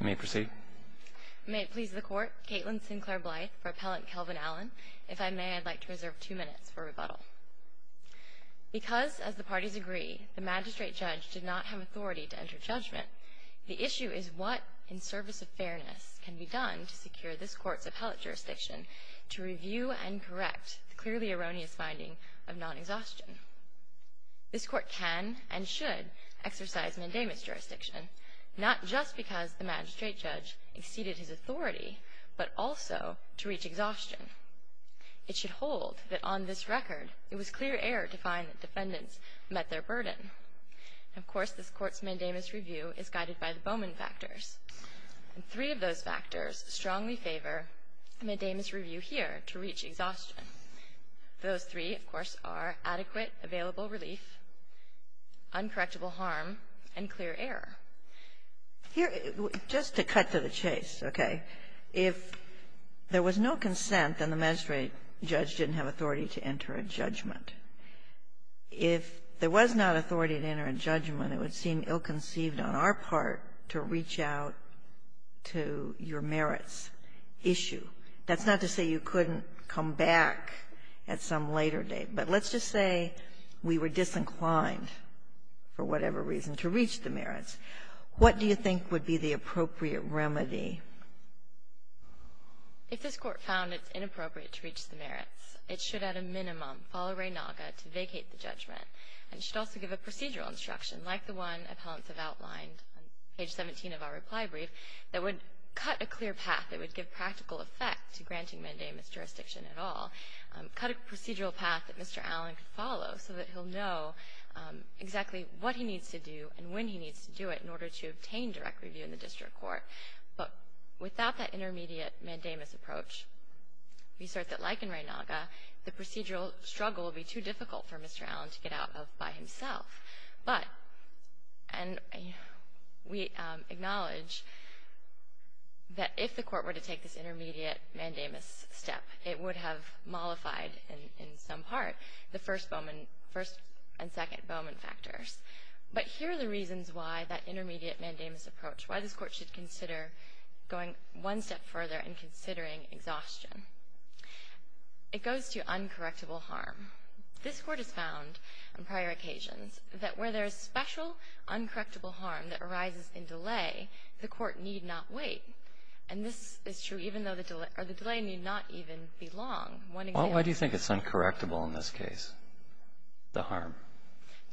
May it please the Court, Caitlin Sinclair Blythe for Appellant Kelvin Allen. If I may, I'd like to reserve two minutes for rebuttal. Because, as the parties agree, the magistrate judge did not have authority to enter judgment, the issue is what, in service of fairness, can be done to secure this Court's appellate jurisdiction to review and correct the clearly erroneous finding of non-exhaustion. This Court can and should exercise mandamus jurisdiction, not just because the magistrate judge exceeded his authority, but also to reach exhaustion. It should hold that, on this record, it was clear error to find that defendants met their burden. Of course, this Court's mandamus review is guided by the Bowman factors, and three of those factors strongly favor a mandamus review here to reach exhaustion. Those three, of course, are adequate available relief, uncorrectable harm, and clear error. Here, just to cut to the chase, okay, if there was no consent, then the magistrate judge didn't have authority to enter a judgment. If there was not authority to enter a judgment, it would seem ill-conceived on our part to reach out to your merits issue. That's not to say you couldn't come back at some later date, but let's just say we were disinclined, for whatever reason, to reach the merits. What do you think would be the appropriate remedy? If this Court found it's inappropriate to reach the merits, it should, at a minimum, follow Ray Naga to vacate the judgment, and should also give a procedural instruction, like the one appellants have outlined on page 17 of our reply brief, that would cut a clear path. It would give practical effect to granting mandamus jurisdiction at all. Cut a procedural path that Mr. Allen could follow so that he'll know exactly what he needs to do and when he needs to do it in order to obtain direct review in the district court. But without that intermediate mandamus approach, we assert that, like in Ray Naga, the procedural struggle would be too difficult for Mr. Allen to get out of by himself. But, and we acknowledge that if the Court were to take this intermediate mandamus step, it would have mollified, in some part, the first Bowman, first and second Bowman factors. But here are the reasons why that intermediate mandamus approach, why this Court should consider going one step further and considering exhaustion. It goes to uncorrectable harm. This Court has found, on prior occasions, that where there is special uncorrectable harm that arises in delay, the Court need not wait. And this is true even though the delay need not even be long. One example. Why do you think it's uncorrectable in this case, the harm?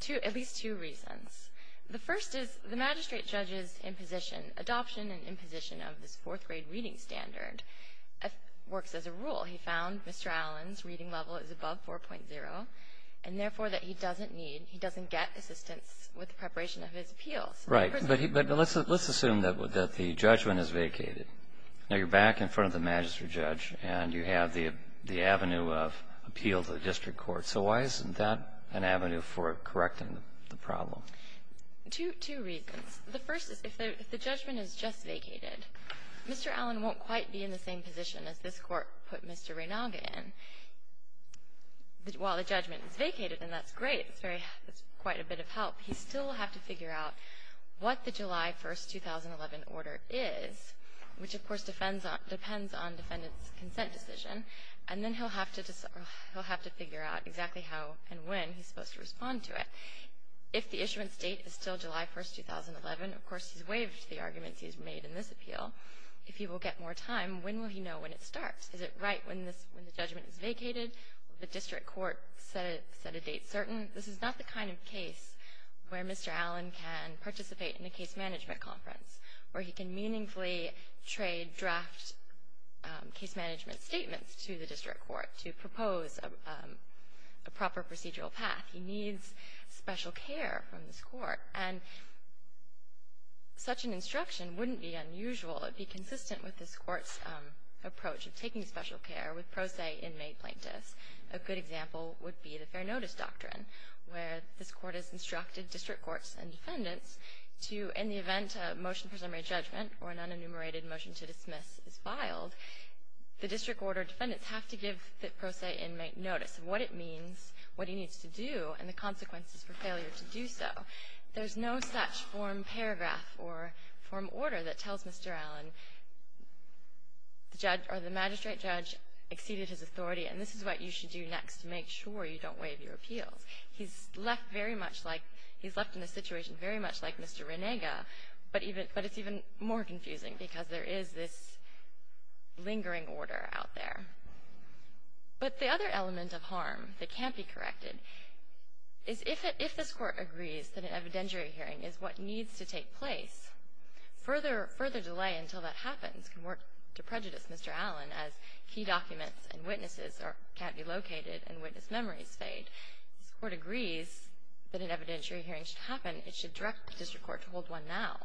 Two, at least two reasons. The first is the magistrate judge's imposition, adoption and imposition of this fourth grade reading standard, works as a rule. He found Mr. Allen's reading level is above 4.0 and, therefore, that he doesn't need, he doesn't get assistance with the preparation of his appeals. Right. But let's assume that the judgment is vacated. Now, you're back in front of the magistrate judge and you have the avenue of appeal to the district court. So why isn't that an avenue for correcting the problem? Two reasons. The first is if the judgment is just vacated, Mr. Allen won't quite be in the same position as this Court put Mr. Ranaga in. While the judgment is vacated, and that's great, that's quite a bit of help, he still will have to figure out what the July 1, 2011, order is, which, of course, depends on defendant's consent decision, and then he'll have to figure out exactly how and when he's supposed to respond to it. If the issuance date is still July 1, 2011, of course, he's waived the arguments he's made in this appeal. If he will get more time, when will he know when it starts? Is it right when the judgment is vacated? Will the district court set a date certain? This is not the kind of case where Mr. Allen can participate in a case management conference, where he can meaningfully trade draft case management statements to the district court to propose a proper procedural path. He needs special care from this Court, and such an instruction wouldn't be unusual. It would be consistent with this Court's approach of taking special care with pro se inmate plaintiffs. A good example would be the fair notice doctrine, where this Court has instructed district courts and defendants to, in the event a motion for summary judgment or an unenumerated motion to dismiss is filed, the district court or defendants have to give the pro se inmate notice. What it means, what he needs to do, and the consequences for failure to do so. There's no such form paragraph or form order that tells Mr. Allen, the magistrate judge exceeded his authority, and this is what you should do next to make sure you don't waive your appeals. He's left in a situation very much like Mr. Renega, but it's even more confusing because there is this lingering order out there. But the other element of harm that can't be corrected is, if this Court agrees that an evidentiary hearing is what needs to take place, further delay until that happens can work to prejudice Mr. Allen as key documents and witnesses can't be located and witness memories fade. If this Court agrees that an evidentiary hearing should happen, it should direct the district court to hold one now.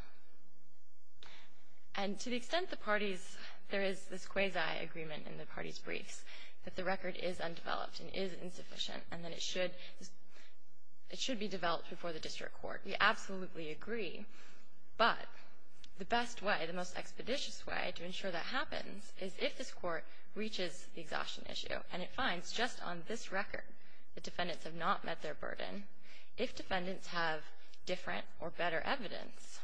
And to the extent the parties, there is this quasi-agreement in the parties' briefs that the record is undeveloped and is insufficient and that it should be developed before the district court. We absolutely agree, but the best way, the most expeditious way to ensure that happens is if this Court reaches the exhaustion issue and it finds just on this record the defendants have not met their burden. If defendants have different or better evidence,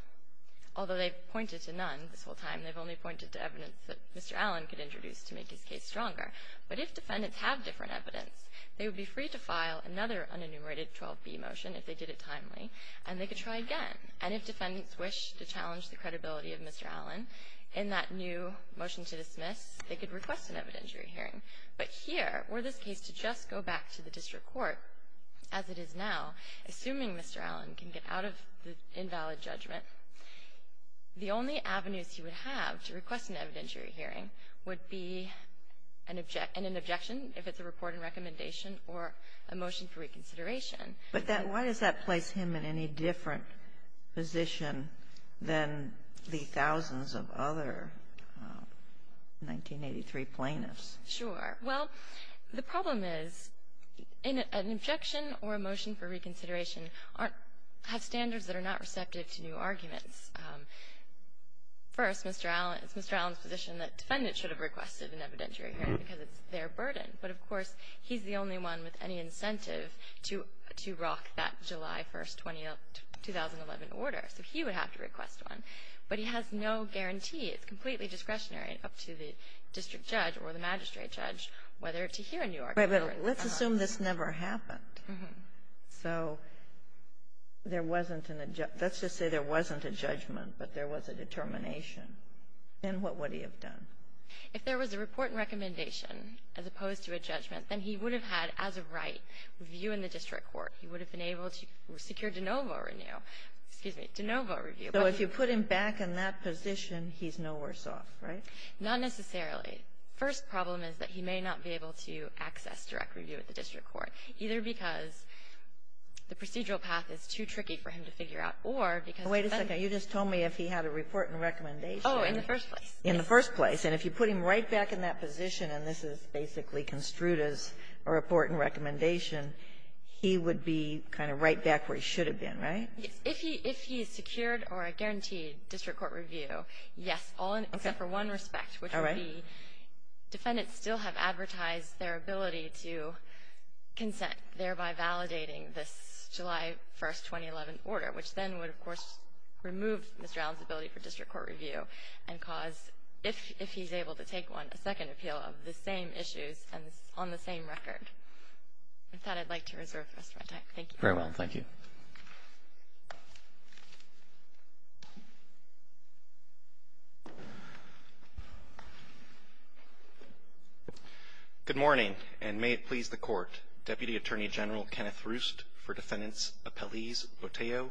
although they've pointed to none this whole time, they've only pointed to evidence that Mr. Allen could introduce to make his case stronger. But if defendants have different evidence, they would be free to file another unenumerated 12B motion if they did it timely, and they could try again. And if defendants wish to challenge the credibility of Mr. Allen in that new motion to dismiss, they could request an evidentiary hearing. But here, were this case to just go back to the district court as it is now, assuming Mr. Allen can get out of the invalid judgment, the only avenues he would have to request an evidentiary hearing would be an objection if it's a report and recommendation or a motion for reconsideration. But that why does that place him in any different position than the thousands of other 1983 plaintiffs? Sure. Well, the problem is an objection or a motion for reconsideration have standards that are not receptive to new arguments. First, Mr. Allen's position that defendants should have requested an evidentiary hearing because it's their burden. But, of course, he's the only one with any incentive to rock that July 1st, 2011, order. So he would have to request one. But he has no guarantee. It's completely discretionary up to the district judge or the magistrate judge whether to hear a new argument or not. Right. But let's assume this never happened. So there wasn't an adjustment. Let's just say there wasn't a judgment, but there was a determination. Then what would he have done? If there was a report and recommendation as opposed to a judgment, then he would have had, as a right, review in the district court. He would have been able to secure de novo renew. Excuse me, de novo review. So if you put him back in that position, he's no worse off, right? Not necessarily. First problem is that he may not be able to access direct review at the district court, either because the procedural path is too tricky for him to figure out or because the defendant ---- Wait a second. You just told me if he had a report and recommendation. Oh, in the first place. In the first place. And if you put him right back in that position, and this is basically construed as a report and recommendation, he would be kind of right back where he should have been, right? Yes. If he is secured or guaranteed district court review, yes, all in ---- Okay. Except for one respect, which would be ---- All right. ---- defendants still have advertised their ability to consent, thereby validating this July 1st, 2011 order, which then would, of course, remove Mr. Allen's ability for district court review and cause, if he's able to take one, a second appeal of the same issues and on the same record. With that, I'd like to reserve the rest of my time. Thank you. Very well. Thank you. Good morning, and may it please the Court, Deputy Attorney General Kenneth Roost for defendants Appellees Oteyo,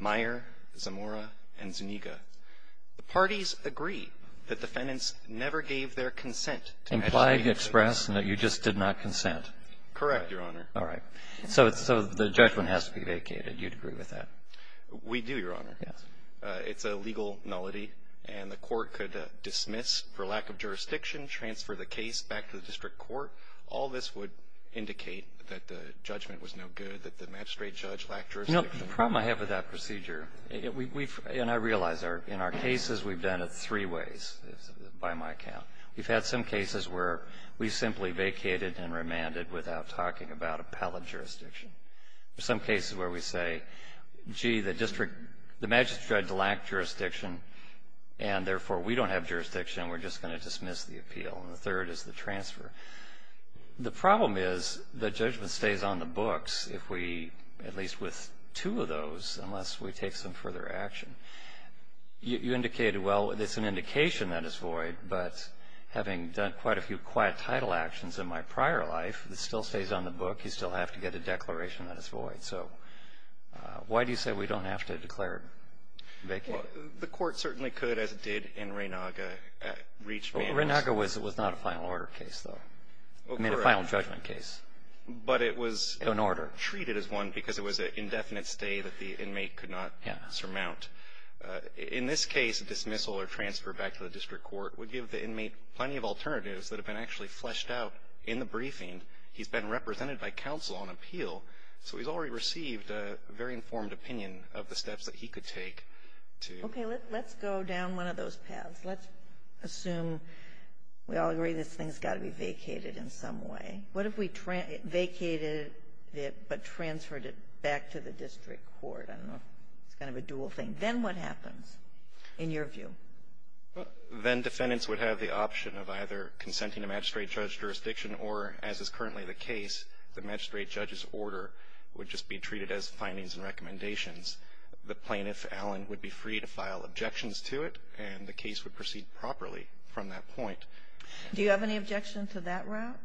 Meyer, Zamora, and Zuniga. The parties agree that defendants never gave their consent to ---- Implied, expressed, and that you just did not consent. Correct, Your Honor. All right. So the judgment has to be vacated. You'd agree with that? We do, Your Honor. Yes. It's a legal nullity, and the Court could dismiss for lack of jurisdiction, transfer the case back to the district court. All this would indicate that the judgment was no good, that the magistrate judge lacked jurisdiction. No. The problem I have with that procedure, and I realize, in our cases, we've done it three ways, by my count. We've had some cases where we've simply vacated and remanded without talking about appellate jurisdiction. There are some cases where we say, gee, the magistrate judge lacked jurisdiction, and therefore, we don't have jurisdiction, and we're just going to dismiss the appeal. And the third is the transfer. The problem is the judgment stays on the books if we, at least with two of those, unless we take some further action. You indicated, well, it's an indication that it's void, but having done quite a few quiet title actions in my prior life, it still stays on the book. You still have to get a declaration that it's void. So why do you say we don't have to declare it vacated? Well, the Court certainly could, as it did in Renaga. Renaga was not a final order case, though. I mean, a final judgment case. But it was treated as one because it was an indefinite stay that the inmate could not surmount. In this case, a dismissal or transfer back to the district court would give the inmate plenty of alternatives that have been actually fleshed out in the briefing. He's been represented by counsel on appeal, so he's already received a very informed opinion of the steps that he could take. Okay, let's go down one of those paths. Let's assume we all agree this thing's got to be vacated in some way. What if we vacated it but transferred it back to the district court? I don't know. It's kind of a dual thing. Then what happens, in your view? Then defendants would have the option of either consenting to magistrate judge jurisdiction or, as is currently the case, the magistrate judge's order would just be treated as findings and recommendations. The plaintiff, Allen, would be free to file objections to it, and the case would proceed properly from that point. Do you have any objection to that route?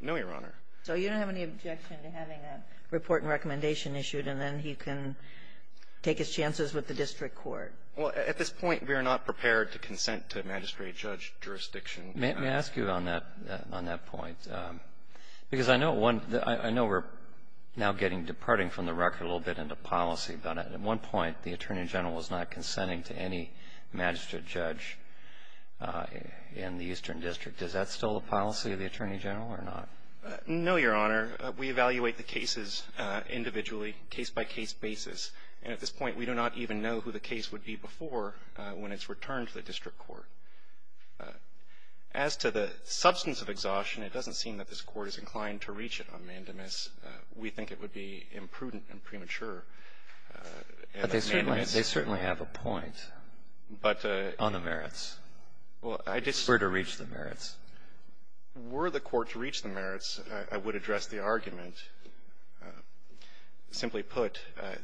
No, Your Honor. So you don't have any objection to having a report and recommendation issued, and then he can take his chances with the district court? Well, at this point, we are not prepared to consent to magistrate judge jurisdiction. May I ask you on that point? Because I know we're now getting, departing from the record a little bit into policy, but at one point, the Attorney General was not consenting to any magistrate judge in the Eastern District. Is that still the policy of the Attorney General or not? No, Your Honor. We evaluate the cases individually, case-by-case basis, and at this point, we do not even know who the case would be before when it's returned to the district court. As to the substance of exhaustion, it doesn't seem that this Court is inclined to reach it on mandamus. We think it would be imprudent and premature. But they certainly have a point on the merits. Well, I just — Were to reach the merits. Were the Court to reach the merits, I would address the argument. Simply put, the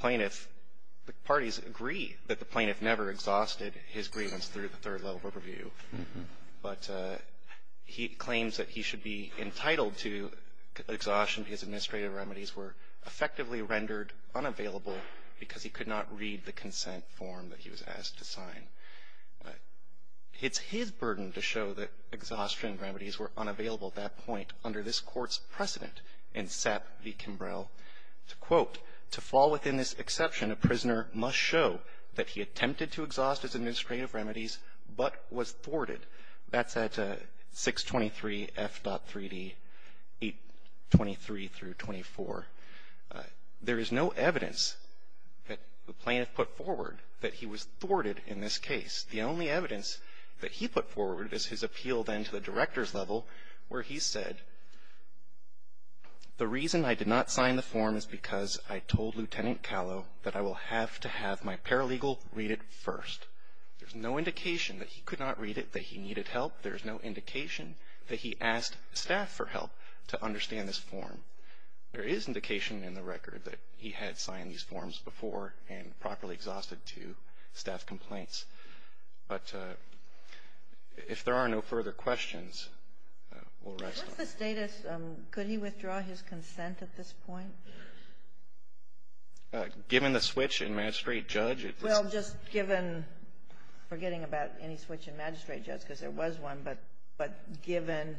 plaintiff, the parties agree that the plaintiff never exhausted his grievance through the third level of review, but he claims that he should be entitled to exhaustion because administrative remedies were effectively rendered unavailable because he could not read the consent form that he was asked to sign. It's his burden to show that exhaustion remedies were unavailable at that point under this Court's precedent in Sepp v. Kimbrell. To quote, to fall within this exception, a prisoner must show that he attempted to exhaust his administrative remedies but was thwarted. That's at 623 F.3d 823-24. There is no evidence that the plaintiff put forward that he was thwarted in this case. The only evidence that he put forward is his appeal then to the director's level where he said, the reason I did not sign the form is because I told Lieutenant Callow that I will have to have my paralegal read it first. There's no indication that he could not read it, that he needed help. There's no indication that he asked staff for help to understand this form. There is indication in the record that he had signed these forms before and properly exhausted to staff complaints. But if there are no further questions, we'll rest on that. Sotomayor, what's the status? Could he withdraw his consent at this point? Given the switch in magistrate-judge, it's the same. Well, just given, forgetting about any switch in magistrate-judge because there was one, but given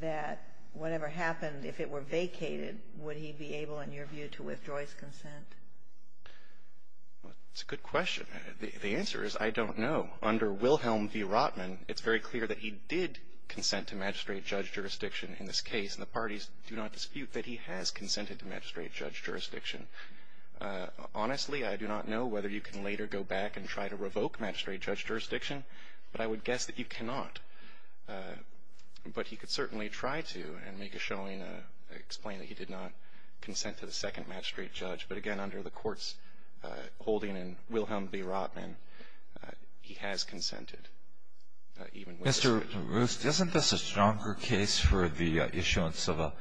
that whatever happened, if it were vacated, would he be able, in your view, to withdraw his consent? It's a good question. The answer is I don't know. Under Wilhelm V. Rotman, it's very clear that he did consent to magistrate-judge jurisdiction in this case, and the parties do not dispute that he has consented to magistrate-judge jurisdiction. Honestly, I do not know whether you can later go back and try to revoke magistrate-judge jurisdiction, but I would guess that you cannot. But he could certainly try to and make a showing, explain that he did not consent to the second magistrate-judge. But again, under the Court's holding in Wilhelm V. Rotman, he has consented, even with the switch. Mr. Roost, isn't this a stronger case for the issuance of a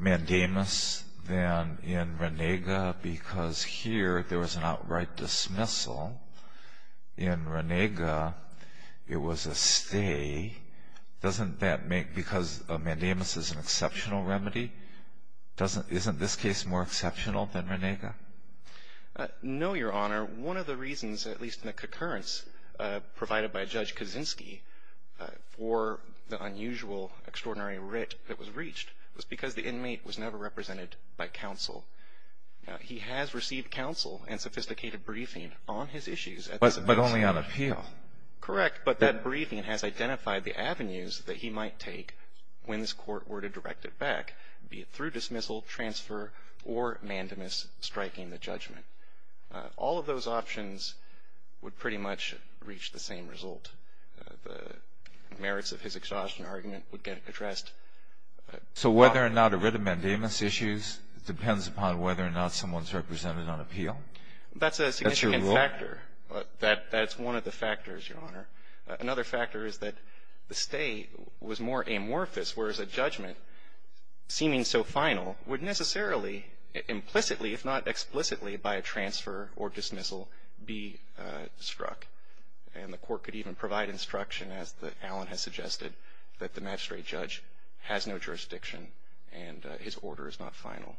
mandamus than in Renega because here there was an outright dismissal? In Renega, it was a stay. Doesn't that make, because a mandamus is an exceptional remedy, doesn't, isn't this case more exceptional than Renega? No, Your Honor. One of the reasons, at least in the concurrence provided by Judge Kaczynski for the unusual, extraordinary writ that was reached was because the inmate was never represented by counsel. He has received counsel and sophisticated briefing on his issues. But only on appeal. Correct. But that briefing has identified the avenues that he might take when this Court were to direct it back, be it through dismissal, transfer, or mandamus striking the judgment. All of those options would pretty much reach the same result. The merits of his exhaustion argument would get addressed. So whether or not a writ of mandamus issues depends upon whether or not someone's represented on appeal? That's a significant factor. That's one of the factors, Your Honor. Another factor is that the stay was more amorphous, whereas a judgment, seeming so final, would necessarily, implicitly, if not explicitly, by a transfer or dismissal, be struck. And the Court could even provide instruction, as Alan has suggested, that the magistrate judge has no jurisdiction and his order is not final.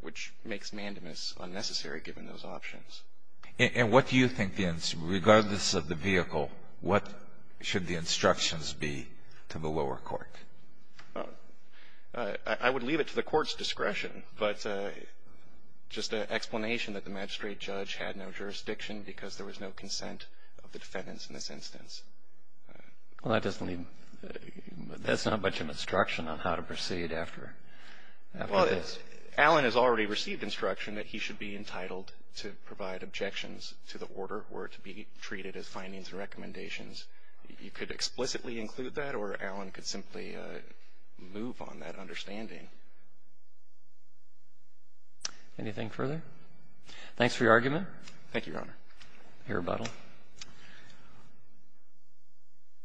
Which makes mandamus unnecessary, given those options. And what do you think, regardless of the vehicle, what should the instructions be to the lower court? I would leave it to the Court's discretion. But just an explanation that the magistrate judge had no jurisdiction because there was no consent of the defendants in this instance. Well, that doesn't leave me. That's not much of an instruction on how to proceed after this. Because Alan has already received instruction that he should be entitled to provide objections to the order or to be treated as findings and recommendations. You could explicitly include that or Alan could simply move on that understanding. Anything further? Thanks for your argument. Thank you, Your Honor. Your rebuttal. I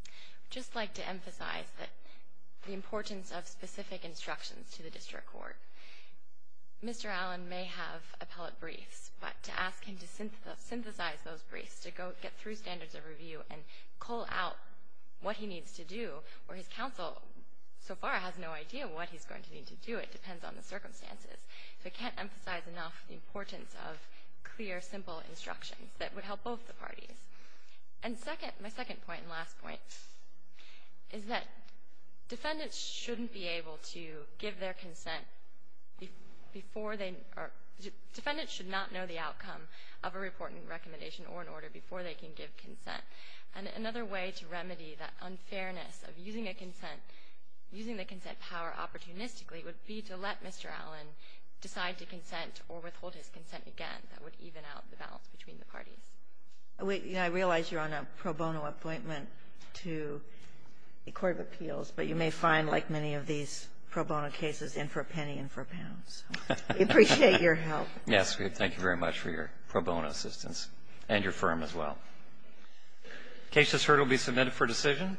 would just like to emphasize the importance of specific instructions to the district court. Mr. Alan may have appellate briefs, but to ask him to synthesize those briefs, to get through standards of review and call out what he needs to do, or his counsel so far has no idea what he's going to need to do. It depends on the circumstances. So I can't emphasize enough the importance of clear, simple instructions that would help both the parties. And second, my second point and last point is that defendants shouldn't be able to give their consent before they, defendants should not know the outcome of a report and recommendation or an order before they can give consent. And another way to remedy that unfairness of using a consent, using the consent power opportunistically would be to let Mr. Alan decide to consent or withhold his consent again. That would even out the balance between the parties. I realize you're on a pro bono appointment to the Court of Appeals, but you may find like many of these pro bono cases, in for a penny, in for a pound. So we appreciate your help. Yes, we thank you very much for your pro bono assistance and your firm as well. The case that's heard will be submitted for decision.